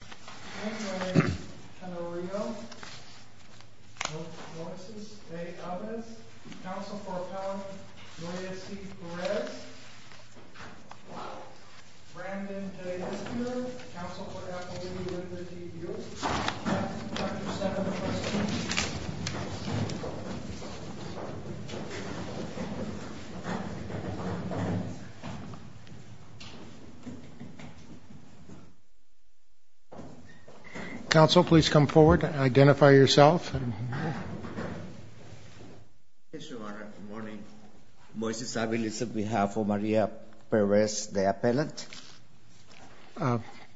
My name is Tenorio Moises de Alvarez, counsel for Appellant Gloria C. Perez, Brandon de Council, please come forward, identify yourself. Yes, Your Honor. Good morning. Moises Alvarez on behalf of Maria Perez, the appellant.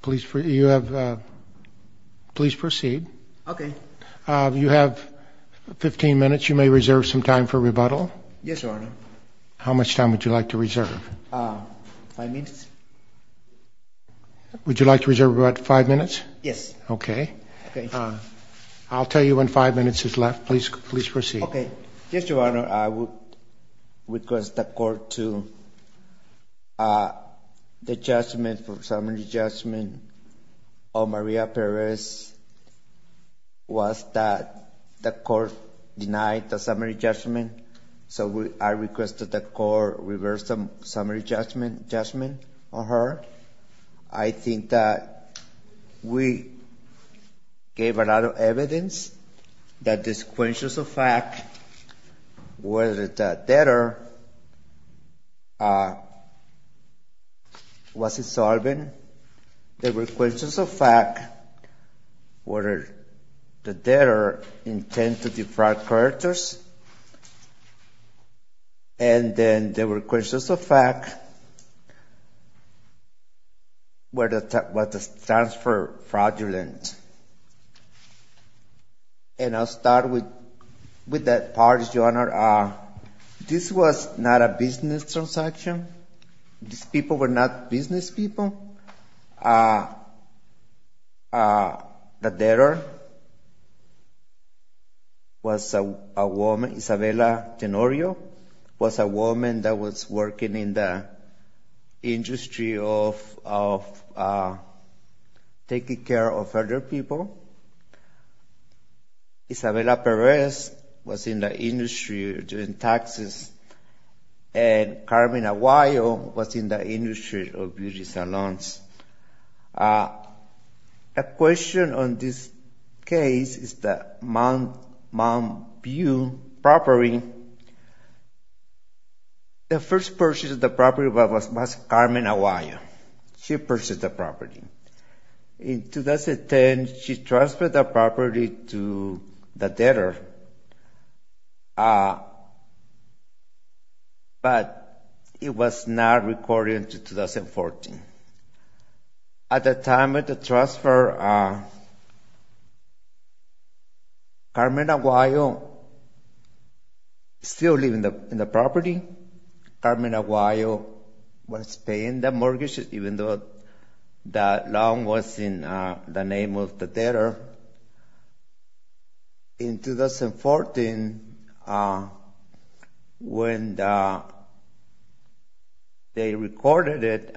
Please proceed. Okay. You have 15 minutes. You may reserve some time for rebuttal. Yes, Your Honor. How much time would you like to reserve? Five minutes. Would you like to reserve about five minutes? Yes. Okay. I'll tell you when five minutes is left. Please proceed. Okay. Yes, Your Honor. I would request the court to the judgment for summary judgment of Maria Perez was that the court denied the summary judgment. So I request that the court reverse the summary judgment on her. I think that we gave a lot of evidence that this question of fact whether the debtor was insolvent. There were questions of fact whether the debtor intended to defraud creditors. And then there were questions of fact whether the transfer fraudulent. And I'll start with that part, Your Honor. This was not a business transaction. These people were not business people. The debtor was a woman, Isabella Tenorio, was a woman that was working in the industry of taking care of other people. Isabella Perez was in the industry doing taxes. And Carmen Aguayo was in the industry of beauty salons. A question on this case is that Mount View property, the first purchase of the property was Carmen Aguayo. She purchased the property. In 2010, she transferred the property to the debtor, but it was not recorded until 2014. At the time of the transfer, Carmen Aguayo still lived in the property. Carmen Aguayo was paying the mortgage, even though the loan was in the name of the debtor. In 2014, when they recorded it,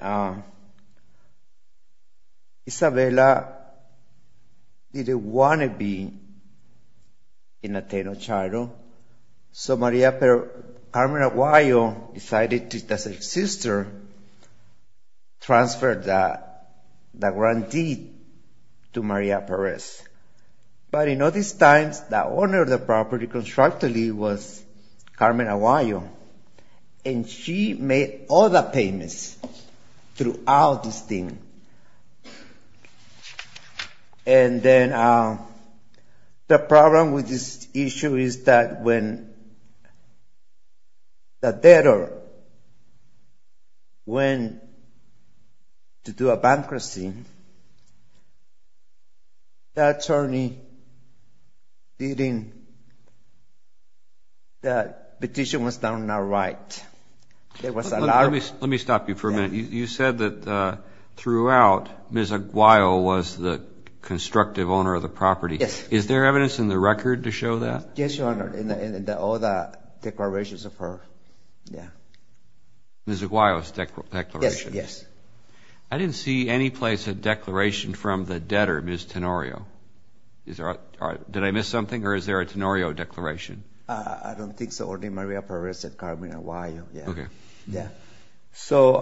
Isabella didn't want to be in the Tenorio Charter. So Carmen Aguayo decided to transfer the grantee to Maria Perez. But in other times, the owner of the property constructively was Carmen Aguayo. And she made all the payments throughout this thing. And then the problem with this issue is that when the debtor went to do a bankruptcy, the attorney didn't, the petition was not right. There was a lot of- Let me stop you for a minute. You said that throughout, Ms. Aguayo was the constructive owner of the property. Yes. Is there evidence in the record to show that? Yes, Your Honor, in all the declarations of her, yeah. Ms. Aguayo's declaration? Yes, yes. I didn't see any place a declaration from the debtor, Ms. Tenorio. Did I miss something, or is there a Tenorio declaration? I don't think so. Only Maria Perez and Carmen Aguayo, yeah. Okay. Yeah. So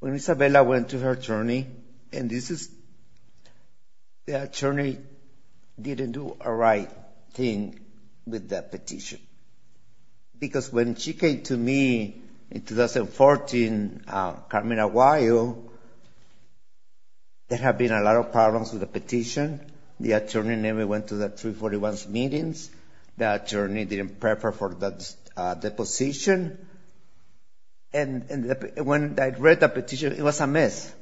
when Isabella went to her attorney, and this is the attorney didn't do a right thing with that petition. Because when she came to me in 2014, Carmen Aguayo, there had been a lot of problems with the petition. The attorney never went to the 341 meetings. The attorney didn't prepare for the position. And when I read the petition, it was a mess,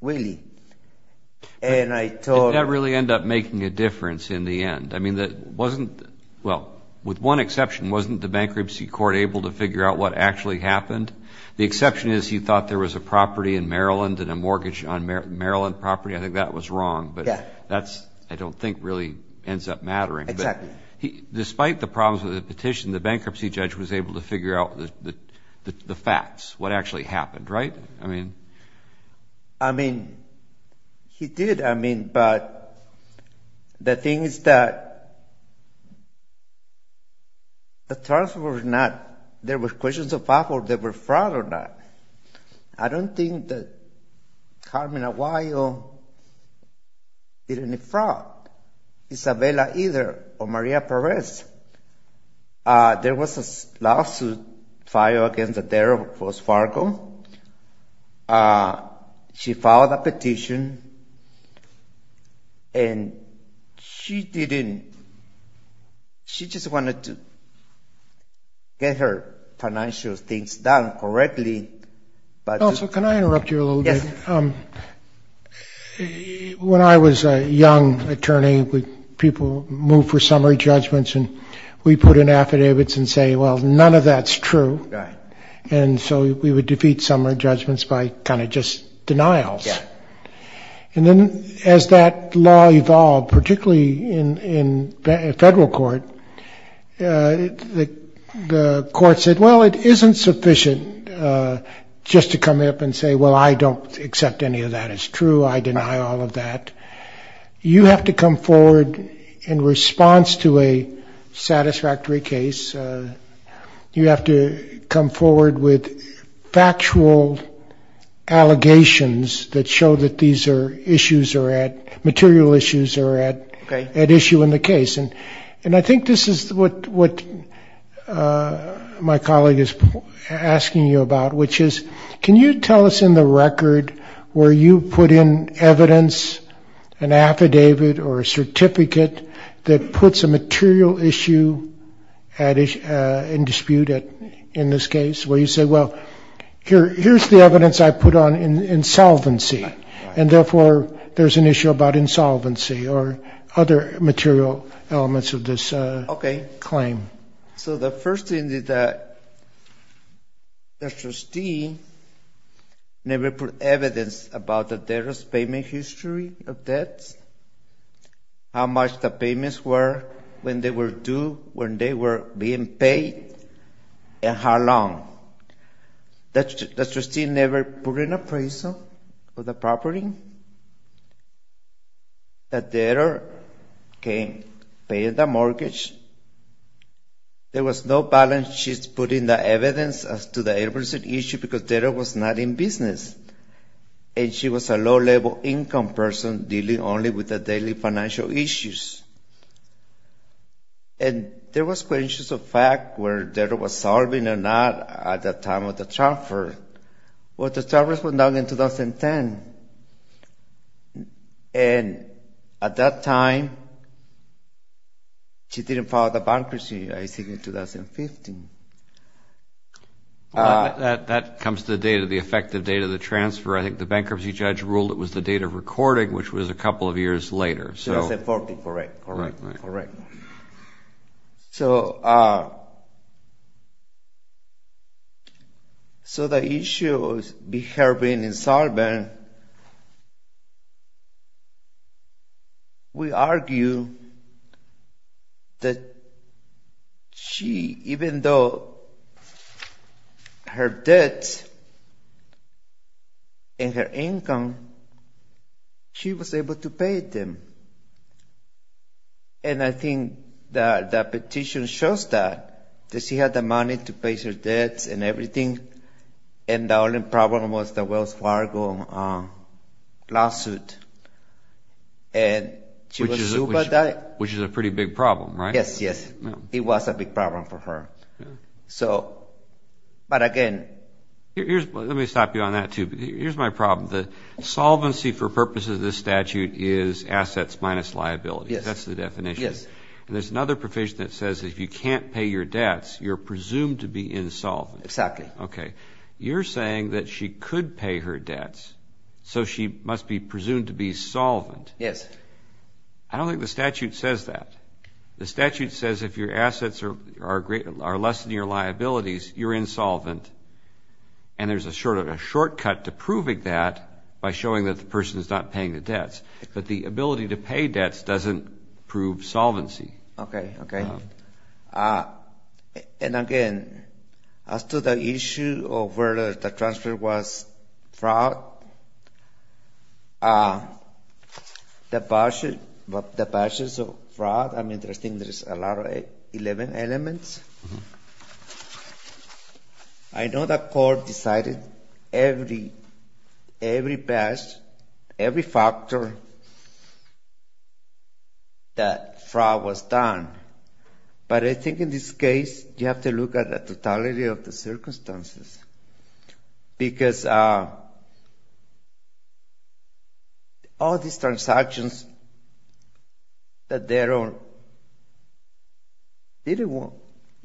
really. And I told- Did that really end up making a difference in the end? I mean, wasn't-well, with one exception, wasn't the bankruptcy court able to figure out what actually happened? The exception is he thought there was a property in Maryland and a mortgage on Maryland property. I think that was wrong. Yeah. But that's, I don't think, really ends up mattering. Exactly. Despite the problems with the petition, the bankruptcy judge was able to figure out the facts, what actually happened, right? I mean- I mean, he did. I mean, but the thing is that the trust was not-there were questions of whether they were fraud or not. I don't think that Carmen Aguayo did any fraud. Isabella either, or Maria Perez. There was a lawsuit filed against Adair of Wells Fargo. She filed a petition, and she didn't-she just wanted to get her financial things done correctly. Also, can I interrupt you a little bit? Yes. When I was a young attorney, people moved for summary judgments, and we put in affidavits and say, well, none of that's true. And so we would defeat summary judgments by kind of just denials. And then as that law evolved, particularly in federal court, the court said, well, it isn't sufficient just to come up and say, well, I don't accept any of that is true. I deny all of that. You have to come forward in response to a satisfactory case. You have to come forward with factual allegations that show that these issues are at-material issues are at issue in the case. And I think this is what my colleague is asking you about, which is can you tell us in the record where you put in evidence, an affidavit or a certificate that puts a material issue in dispute in this case, where you say, well, here's the evidence I put on insolvency, and therefore there's an issue about insolvency or other material elements of this claim. So the first thing is that the trustee never put evidence about the debtor's payment history of debts, how much the payments were, when they were due, when they were being paid, and how long. The trustee never put an appraisal of the property. The debtor came, paid the mortgage. There was no balance sheets put in the evidence as to the appraisal issue because the debtor was not in business. And she was a low-level income person dealing only with the daily financial issues. And there was questions of fact where the debtor was solving or not at the time of the transfer. Well, the transfer was done in 2010. And at that time, she didn't file the bankruptcy, I think, in 2015. Well, that comes to the data, the effective date of the transfer. I think the bankruptcy judge ruled it was the date of recording, which was a couple of years later. So it was in 40, correct, correct, correct. So the issue of her being insolvent, we argue that she, even though her debts and her income, she was able to pay them. And I think the petition shows that. She had the money to pay her debts and everything. And the only problem was the Wells Fargo lawsuit. Which is a pretty big problem, right? Yes, yes. It was a big problem for her. But, again. Let me stop you on that, too. Here's my problem. The solvency for purposes of this statute is assets minus liability. Yes. That's the definition. Yes. And there's another provision that says if you can't pay your debts, you're presumed to be insolvent. Exactly. Okay. You're saying that she could pay her debts. So she must be presumed to be solvent. Yes. I don't think the statute says that. The statute says if your assets are less than your liabilities, you're insolvent. And there's a shortcut to proving that by showing that the person is not paying the debts. But the ability to pay debts doesn't prove solvency. Okay, okay. And, again, as to the issue of whether the transfer was fraud, the basis of fraud, I mean, there's a lot of elements. I know the court decided every best, every factor that fraud was done. But I think in this case, you have to look at the totality of the circumstances. Because all these transactions that they're on,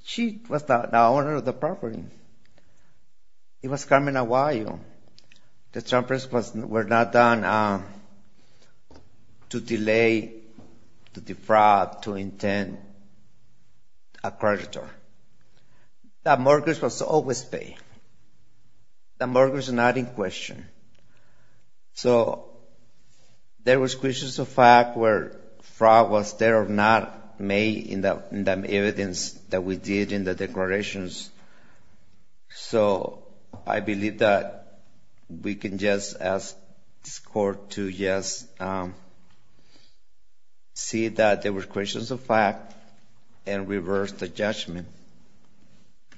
she was the owner of the property. It was coming a while. The transfers were not done to delay, to defraud, to intend a creditor. The mortgage was always paid. The mortgage was not in question. So there was questions of fact where fraud was there or not made in the evidence that we did in the declarations. So I believe that we can just ask this court to just see that there were questions of fact and reverse the judgment.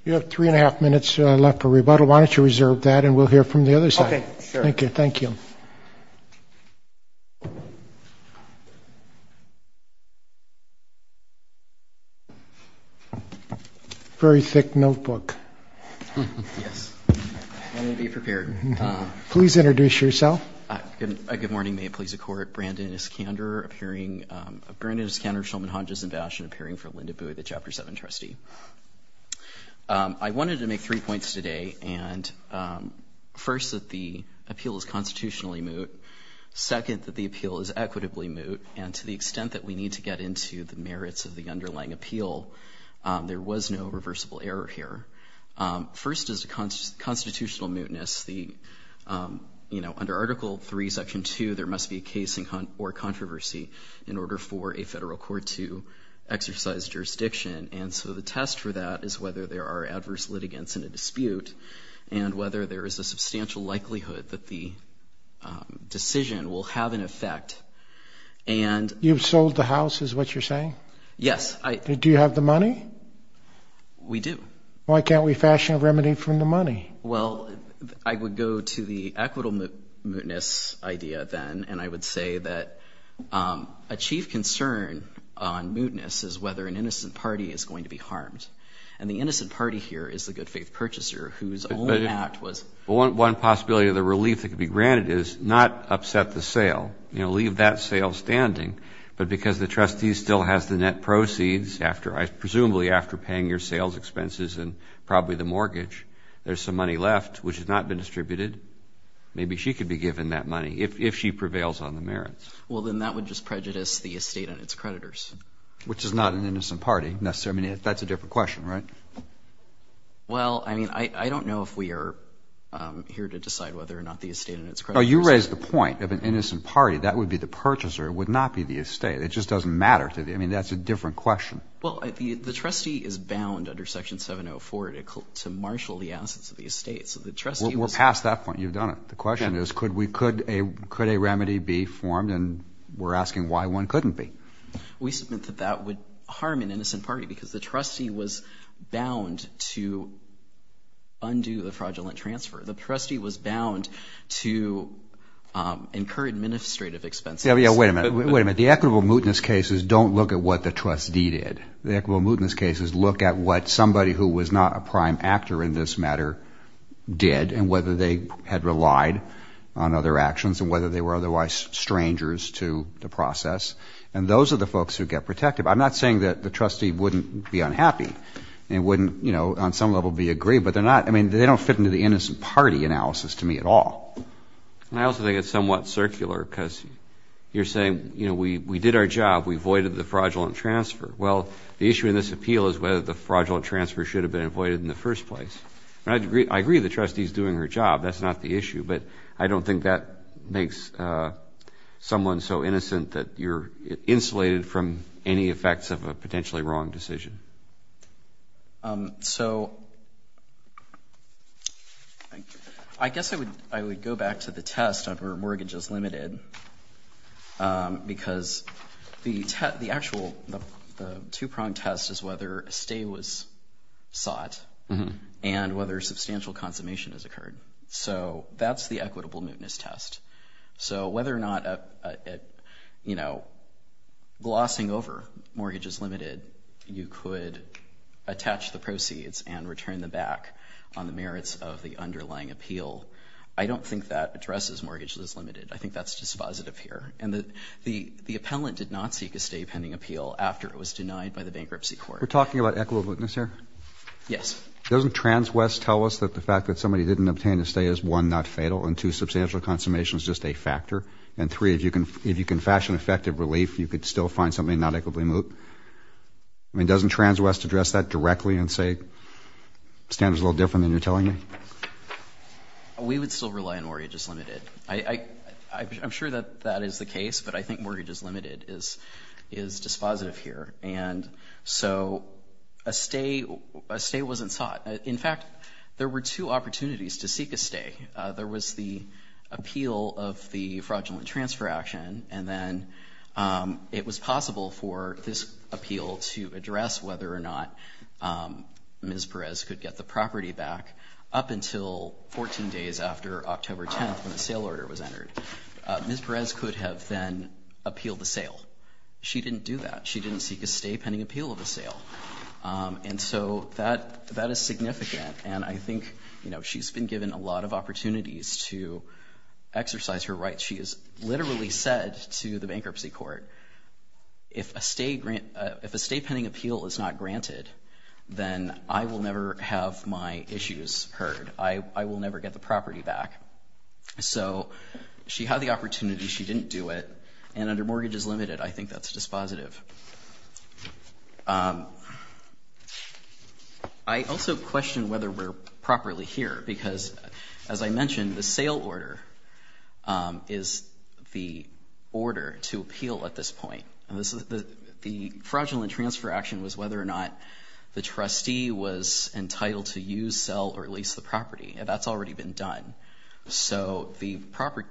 You have three and a half minutes left for rebuttal. Why don't you reserve that, and we'll hear from the other side. Okay, sure. Thank you. Thank you. Very thick notebook. Yes. I'm going to be prepared. Please introduce yourself. Good morning. May it please the Court. Brandon Iskander, appearing. Brandon Iskander, Shulman, Hodges, and Bashin, appearing for Linda Bui, the Chapter 7 trustee. I wanted to make three points today. And first, that the appeal is constitutionally moot. Second, that the appeal is equitably moot. And to the extent that we need to get into the merits of the underlying appeal, there was no reversible error here. First is the constitutional mootness. You know, under Article 3, Section 2, there must be a case or controversy in order for a federal court to exercise jurisdiction. And so the test for that is whether there are adverse litigants in a dispute and whether there is a substantial likelihood that the decision will have an effect. You've sold the house, is what you're saying? Yes. Do you have the money? We do. Why can't we fashion a remedy from the money? Well, I would go to the equitable mootness idea then, and I would say that a chief concern on mootness is whether an innocent party is going to be harmed. And the innocent party here is the good-faith purchaser whose only act was One possibility of the relief that could be granted is not upset the sale, you know, leave that sale standing, but because the trustee still has the net proceeds, presumably after paying your sales expenses and probably the mortgage, there's some money left which has not been distributed. Maybe she could be given that money if she prevails on the merits. Well, then that would just prejudice the estate and its creditors. Which is not an innocent party, necessarily. I mean, that's a different question, right? Well, I mean, I don't know if we are here to decide whether or not the estate and its creditors. No, you raise the point of an innocent party. That would be the purchaser. It would not be the estate. It just doesn't matter to the – I mean, that's a different question. Well, the trustee is bound under Section 704 to marshal the assets of the estate. So the trustee – We're past that point. You've done it. The question is could we – could a remedy be formed? And we're asking why one couldn't be. We submit that that would harm an innocent party because the trustee was bound to undo the fraudulent transfer. The trustee was bound to incur administrative expenses. Wait a minute. Wait a minute. The equitable mootness cases don't look at what the trustee did. The equitable mootness cases look at what somebody who was not a prime actor in this matter did and whether they had relied on other actions and whether they were otherwise strangers to the process. And those are the folks who get protected. I'm not saying that the trustee wouldn't be unhappy and wouldn't, you know, on some level be aggrieved. But they're not – I mean, they don't fit into the innocent party analysis to me at all. And I also think it's somewhat circular because you're saying, you know, we did our job. We voided the fraudulent transfer. Well, the issue in this appeal is whether the fraudulent transfer should have been avoided in the first place. I agree the trustee is doing her job. That's not the issue. But I don't think that makes someone so innocent that you're insulated from any effects of a potentially wrong decision. So I guess I would go back to the test of where mortgage is limited because the actual two-prong test is whether a stay was sought and whether substantial consummation has occurred. So that's the equitable mootness test. So whether or not, you know, glossing over mortgage is limited, you could attach the proceeds and return them back on the merits of the underlying appeal. I don't think that addresses mortgage is limited. I think that's dispositive here. And the appellant did not seek a stay pending appeal after it was denied by the bankruptcy court. We're talking about equitable mootness here? Yes. Doesn't TransWest tell us that the fact that somebody didn't obtain a stay is, one, not fatal, and, two, substantial consummation is just a factor, and, three, if you can fashion effective relief, you could still find something not equitably moot? I mean, doesn't TransWest address that directly and say standards are a little different than you're telling me? We would still rely on mortgage is limited. I'm sure that that is the case, but I think mortgage is limited is dispositive here. And so a stay wasn't sought. In fact, there were two opportunities to seek a stay. There was the appeal of the fraudulent transfer action, and then it was possible for this appeal to address whether or not Ms. Perez could get the property back up until 14 days after October 10th when the sale order was entered. Ms. Perez could have then appealed the sale. She didn't do that. She didn't seek a stay pending appeal of the sale. And so that is significant, and I think she's been given a lot of opportunities to exercise her rights. She has literally said to the bankruptcy court, if a stay pending appeal is not granted, then I will never have my issues heard. I will never get the property back. So she had the opportunity. She didn't do it. And under mortgage is limited, I think that's dispositive. I also question whether we're properly here because, as I mentioned, the sale order is the order to appeal at this point. The fraudulent transfer action was whether or not the trustee was entitled to use, sell, or lease the property, and that's already been done. So the proper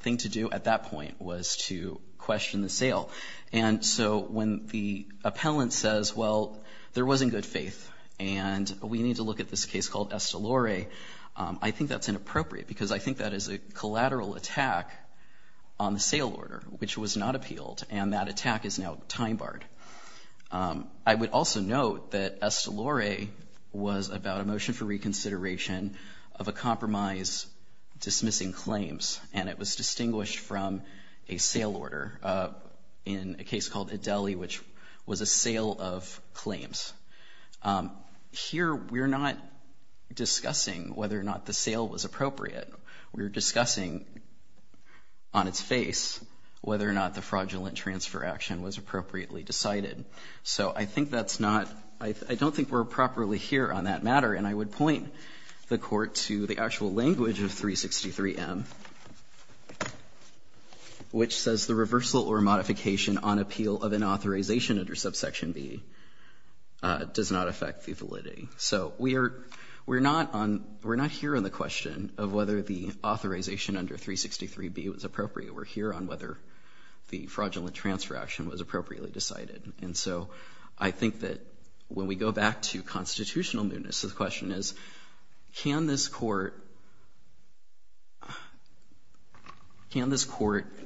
thing to do at that point was to question the sale. And so when the appellant says, well, there wasn't good faith, and we need to look at this case called Estelore, I think that's inappropriate because I think that is a collateral attack on the sale order, which was not appealed, and that attack is now time barred. I would also note that Estelore was about a motion for reconsideration of a compromise dismissing claims, and it was distinguished from a sale order in a case called Ideli, which was a sale of claims. Here we're not discussing whether or not the sale was appropriate. We're discussing on its face whether or not the fraudulent transfer action was appropriately decided. So I think that's not – I don't think we're properly here on that matter, and I would point the Court to the actual language of 363M, which says, the reversal or modification on appeal of an authorization under subsection B does not affect the validity. So we're not here on the question of whether the authorization under 363B was appropriate. We're here on whether the fraudulent transfer action was appropriately decided. And so I think that when we go back to constitutional newness, the question is, can this Court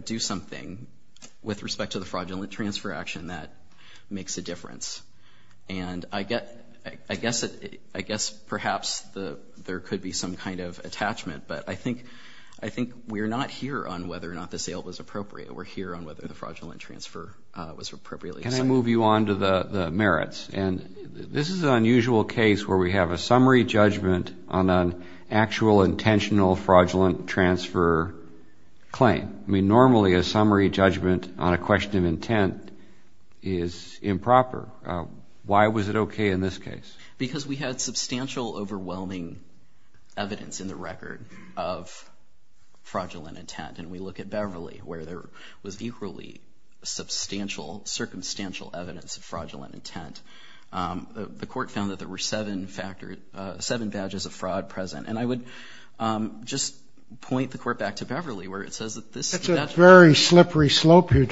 do something with respect to the fraudulent transfer action that makes a difference? And I guess perhaps there could be some kind of attachment, but I think we're not here on whether or not the sale was appropriate. We're here on whether the fraudulent transfer was appropriately decided. Can I move you on to the merits? And this is an unusual case where we have a summary judgment on an actual intentional fraudulent transfer claim. I mean, normally a summary judgment on a question of intent is improper. Why was it okay in this case? Because we had substantial, overwhelming evidence in the record of fraudulent intent. And we look at Beverly, where there was equally substantial, circumstantial evidence of fraudulent intent. The Court found that there were seven badges of fraud present. And I would just point the Court back to Beverly, where it says that this ‑‑ That's a very slippery slope here.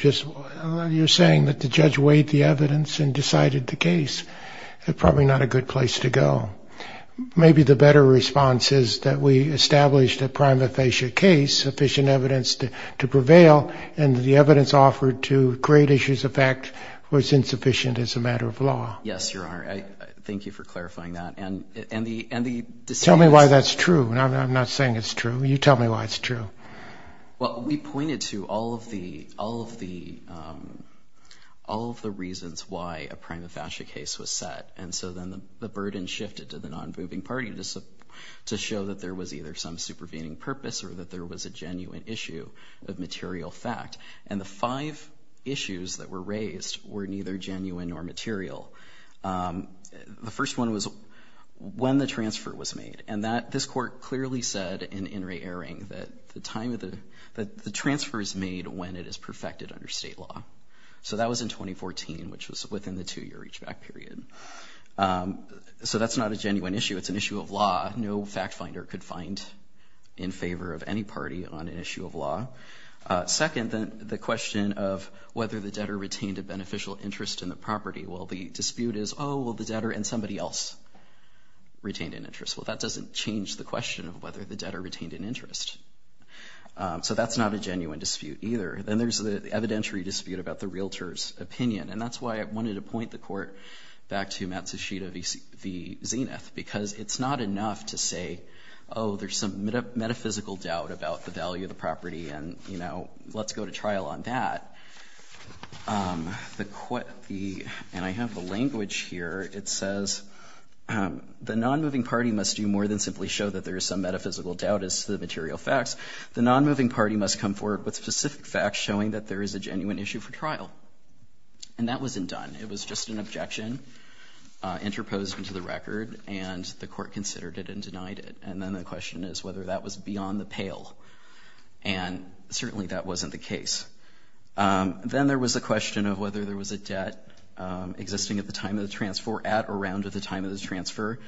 You're saying that the judge weighed the evidence and decided the case. Probably not a good place to go. Maybe the better response is that we established a prima facie case, sufficient evidence to prevail, and the evidence offered to create issues of fact was insufficient as a matter of law. Yes, Your Honor. Thank you for clarifying that. Tell me why that's true. I'm not saying it's true. You tell me why it's true. Well, we pointed to all of the reasons why a prima facie case was set. And so then the burden shifted to the non‑moving party to show that there was either some supervening purpose or that there was a genuine issue of material fact. And the five issues that were raised were neither genuine nor material. The first one was when the transfer was made. And this Court clearly said in In re Erring that the transfer is made when it is perfected under state law. So that was in 2014, which was within the two‑year reach‑back period. So that's not a genuine issue. It's an issue of law. No fact finder could find in favor of any party on an issue of law. Second, the question of whether the debtor retained a beneficial interest in the property. Well, the dispute is, oh, well, the debtor and somebody else retained an interest. Well, that doesn't change the question of whether the debtor retained an interest. So that's not a genuine dispute either. Then there's the evidentiary dispute about the realtor's opinion. And that's why I wanted to point the Court back to Matsushita v. Zenith, because it's not enough to say, oh, there's some metaphysical doubt about the value of the property, and, you know, let's go to trial on that. The ‑‑ and I have the language here. It says, the nonmoving party must do more than simply show that there is some metaphysical doubt as to the material facts. The nonmoving party must come forward with specific facts showing that there is a genuine issue for trial. And that wasn't done. It was just an objection interposed into the record, and the Court considered it and denied it. And then the question is whether that was beyond the pale. And certainly that wasn't the case. Then there was a question of whether there was a debt existing at the time of the transfer or at or around the time of the transfer,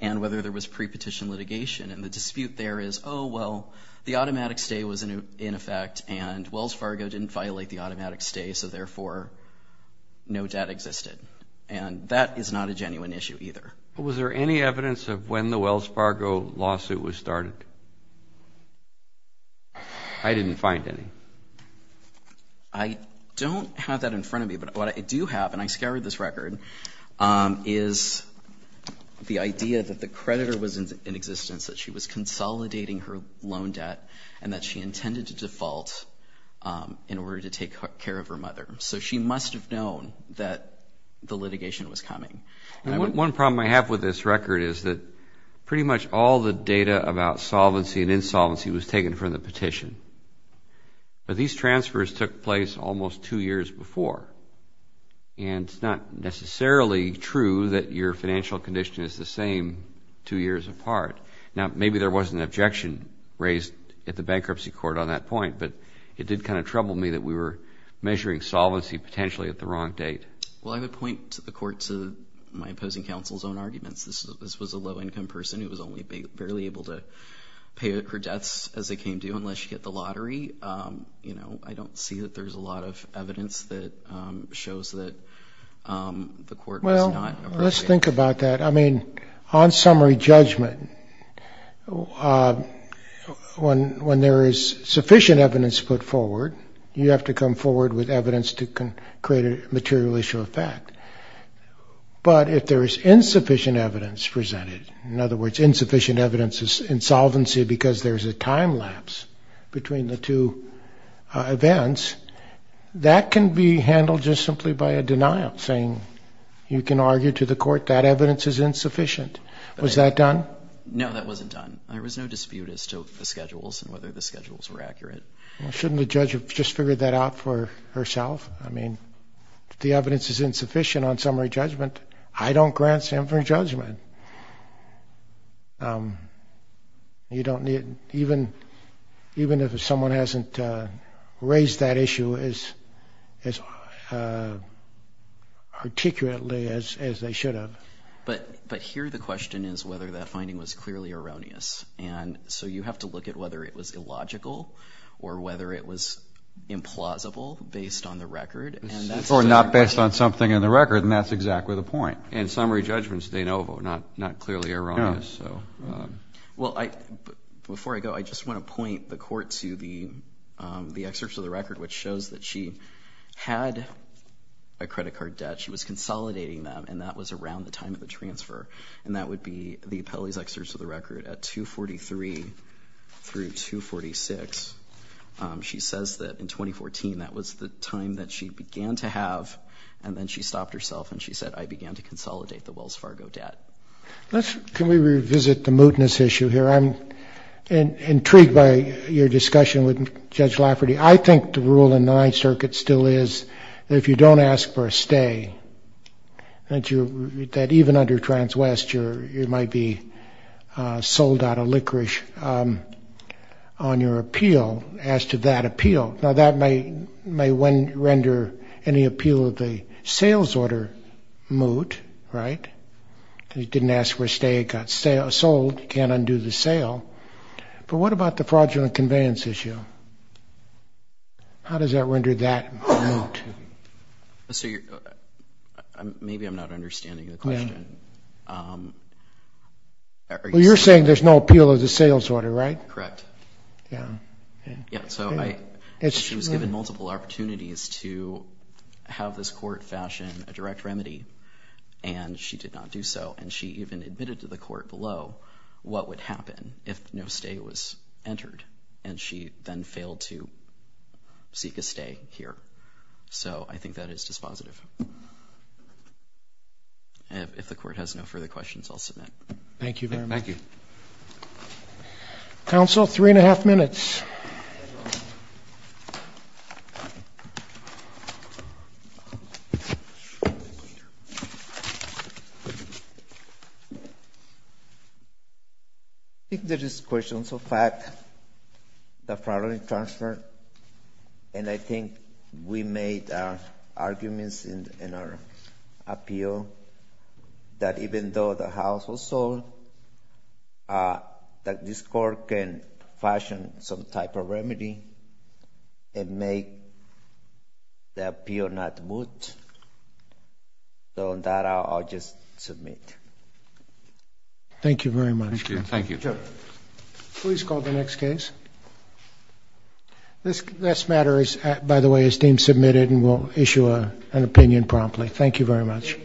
and whether there was pre-petition litigation. And the dispute there is, oh, well, the automatic stay was in effect, and Wells Fargo didn't violate the automatic stay, so therefore no debt existed. And that is not a genuine issue either. Was there any evidence of when the Wells Fargo lawsuit was started? I didn't find any. I don't have that in front of me, but what I do have, and I scoured this record, is the idea that the creditor was in existence, that she was consolidating her loan debt, and that she intended to default in order to take care of her mother. So she must have known that the litigation was coming. One problem I have with this record is that pretty much all the data about solvency and insolvency was taken from the petition. But these transfers took place almost two years before, and it's not necessarily true that your financial condition is the same two years apart. Now, maybe there was an objection raised at the bankruptcy court on that point, but it did kind of trouble me that we were measuring solvency potentially at the wrong date. Well, I would point the court to my opposing counsel's own arguments. This was a low-income person who was only barely able to pay her debts as they came due unless she hit the lottery. I don't see that there's a lot of evidence that shows that the court was not appropriate. Well, let's think about that. I mean, on summary judgment, when there is sufficient evidence put forward, you have to come forward with evidence to create a material issue of fact. But if there is insufficient evidence presented, in other words, insufficient evidence is insolvency because there's a time lapse between the two events, that can be handled just simply by a denial, saying you can argue to the court that evidence is insufficient. Was that done? No, that wasn't done. There was no dispute as to the schedules and whether the schedules were accurate. Well, shouldn't the judge have just figured that out for herself? I mean, the evidence is insufficient on summary judgment. I don't grant summary judgment. Even if someone hasn't raised that issue as articulately as they should have. But here the question is whether that finding was clearly erroneous. And so you have to look at whether it was illogical or whether it was implausible based on the record. Or not based on something in the record, and that's exactly the point. And summary judgment is de novo, not clearly erroneous. Well, before I go, I just want to point the court to the excerpts of the record, which shows that she had a credit card debt. She was consolidating them, and that was around the time of the transfer. And that would be the appellee's excerpts of the record at 243 through 246. She says that in 2014 that was the time that she began to have, and then she stopped herself and she said, I began to consolidate the Wells Fargo debt. Can we revisit the mootness issue here? I'm intrigued by your discussion with Judge Lafferty. I think the rule in the Ninth Circuit still is that if you don't ask for a stay, that even under Trans-West you might be sold out of licorice on your appeal as to that appeal. Now, that may render any appeal of the sales order moot, right? You didn't ask for a stay, it got sold, you can't undo the sale. But what about the fraudulent conveyance issue? How does that render that moot? Maybe I'm not understanding the question. You're saying there's no appeal of the sales order, right? Correct. She was given multiple opportunities to have this court fashion a direct remedy, and she did not do so. And she even admitted to the court below what would happen if no stay was entered, and she then failed to seek a stay here. So I think that is dispositive. If the court has no further questions, I'll submit. Thank you very much. Thank you. Counsel, three and a half minutes. Thank you. I think there is questions of fact, the fraudulent transfer, and I think we made our arguments in our appeal that even though the house was sold, that this court can fashion some type of remedy and make the appeal not moot. So on that, I'll just submit. Thank you very much. Thank you. Please call the next case. This matter, by the way, is deemed submitted and we'll issue an opinion promptly. Thank you very much.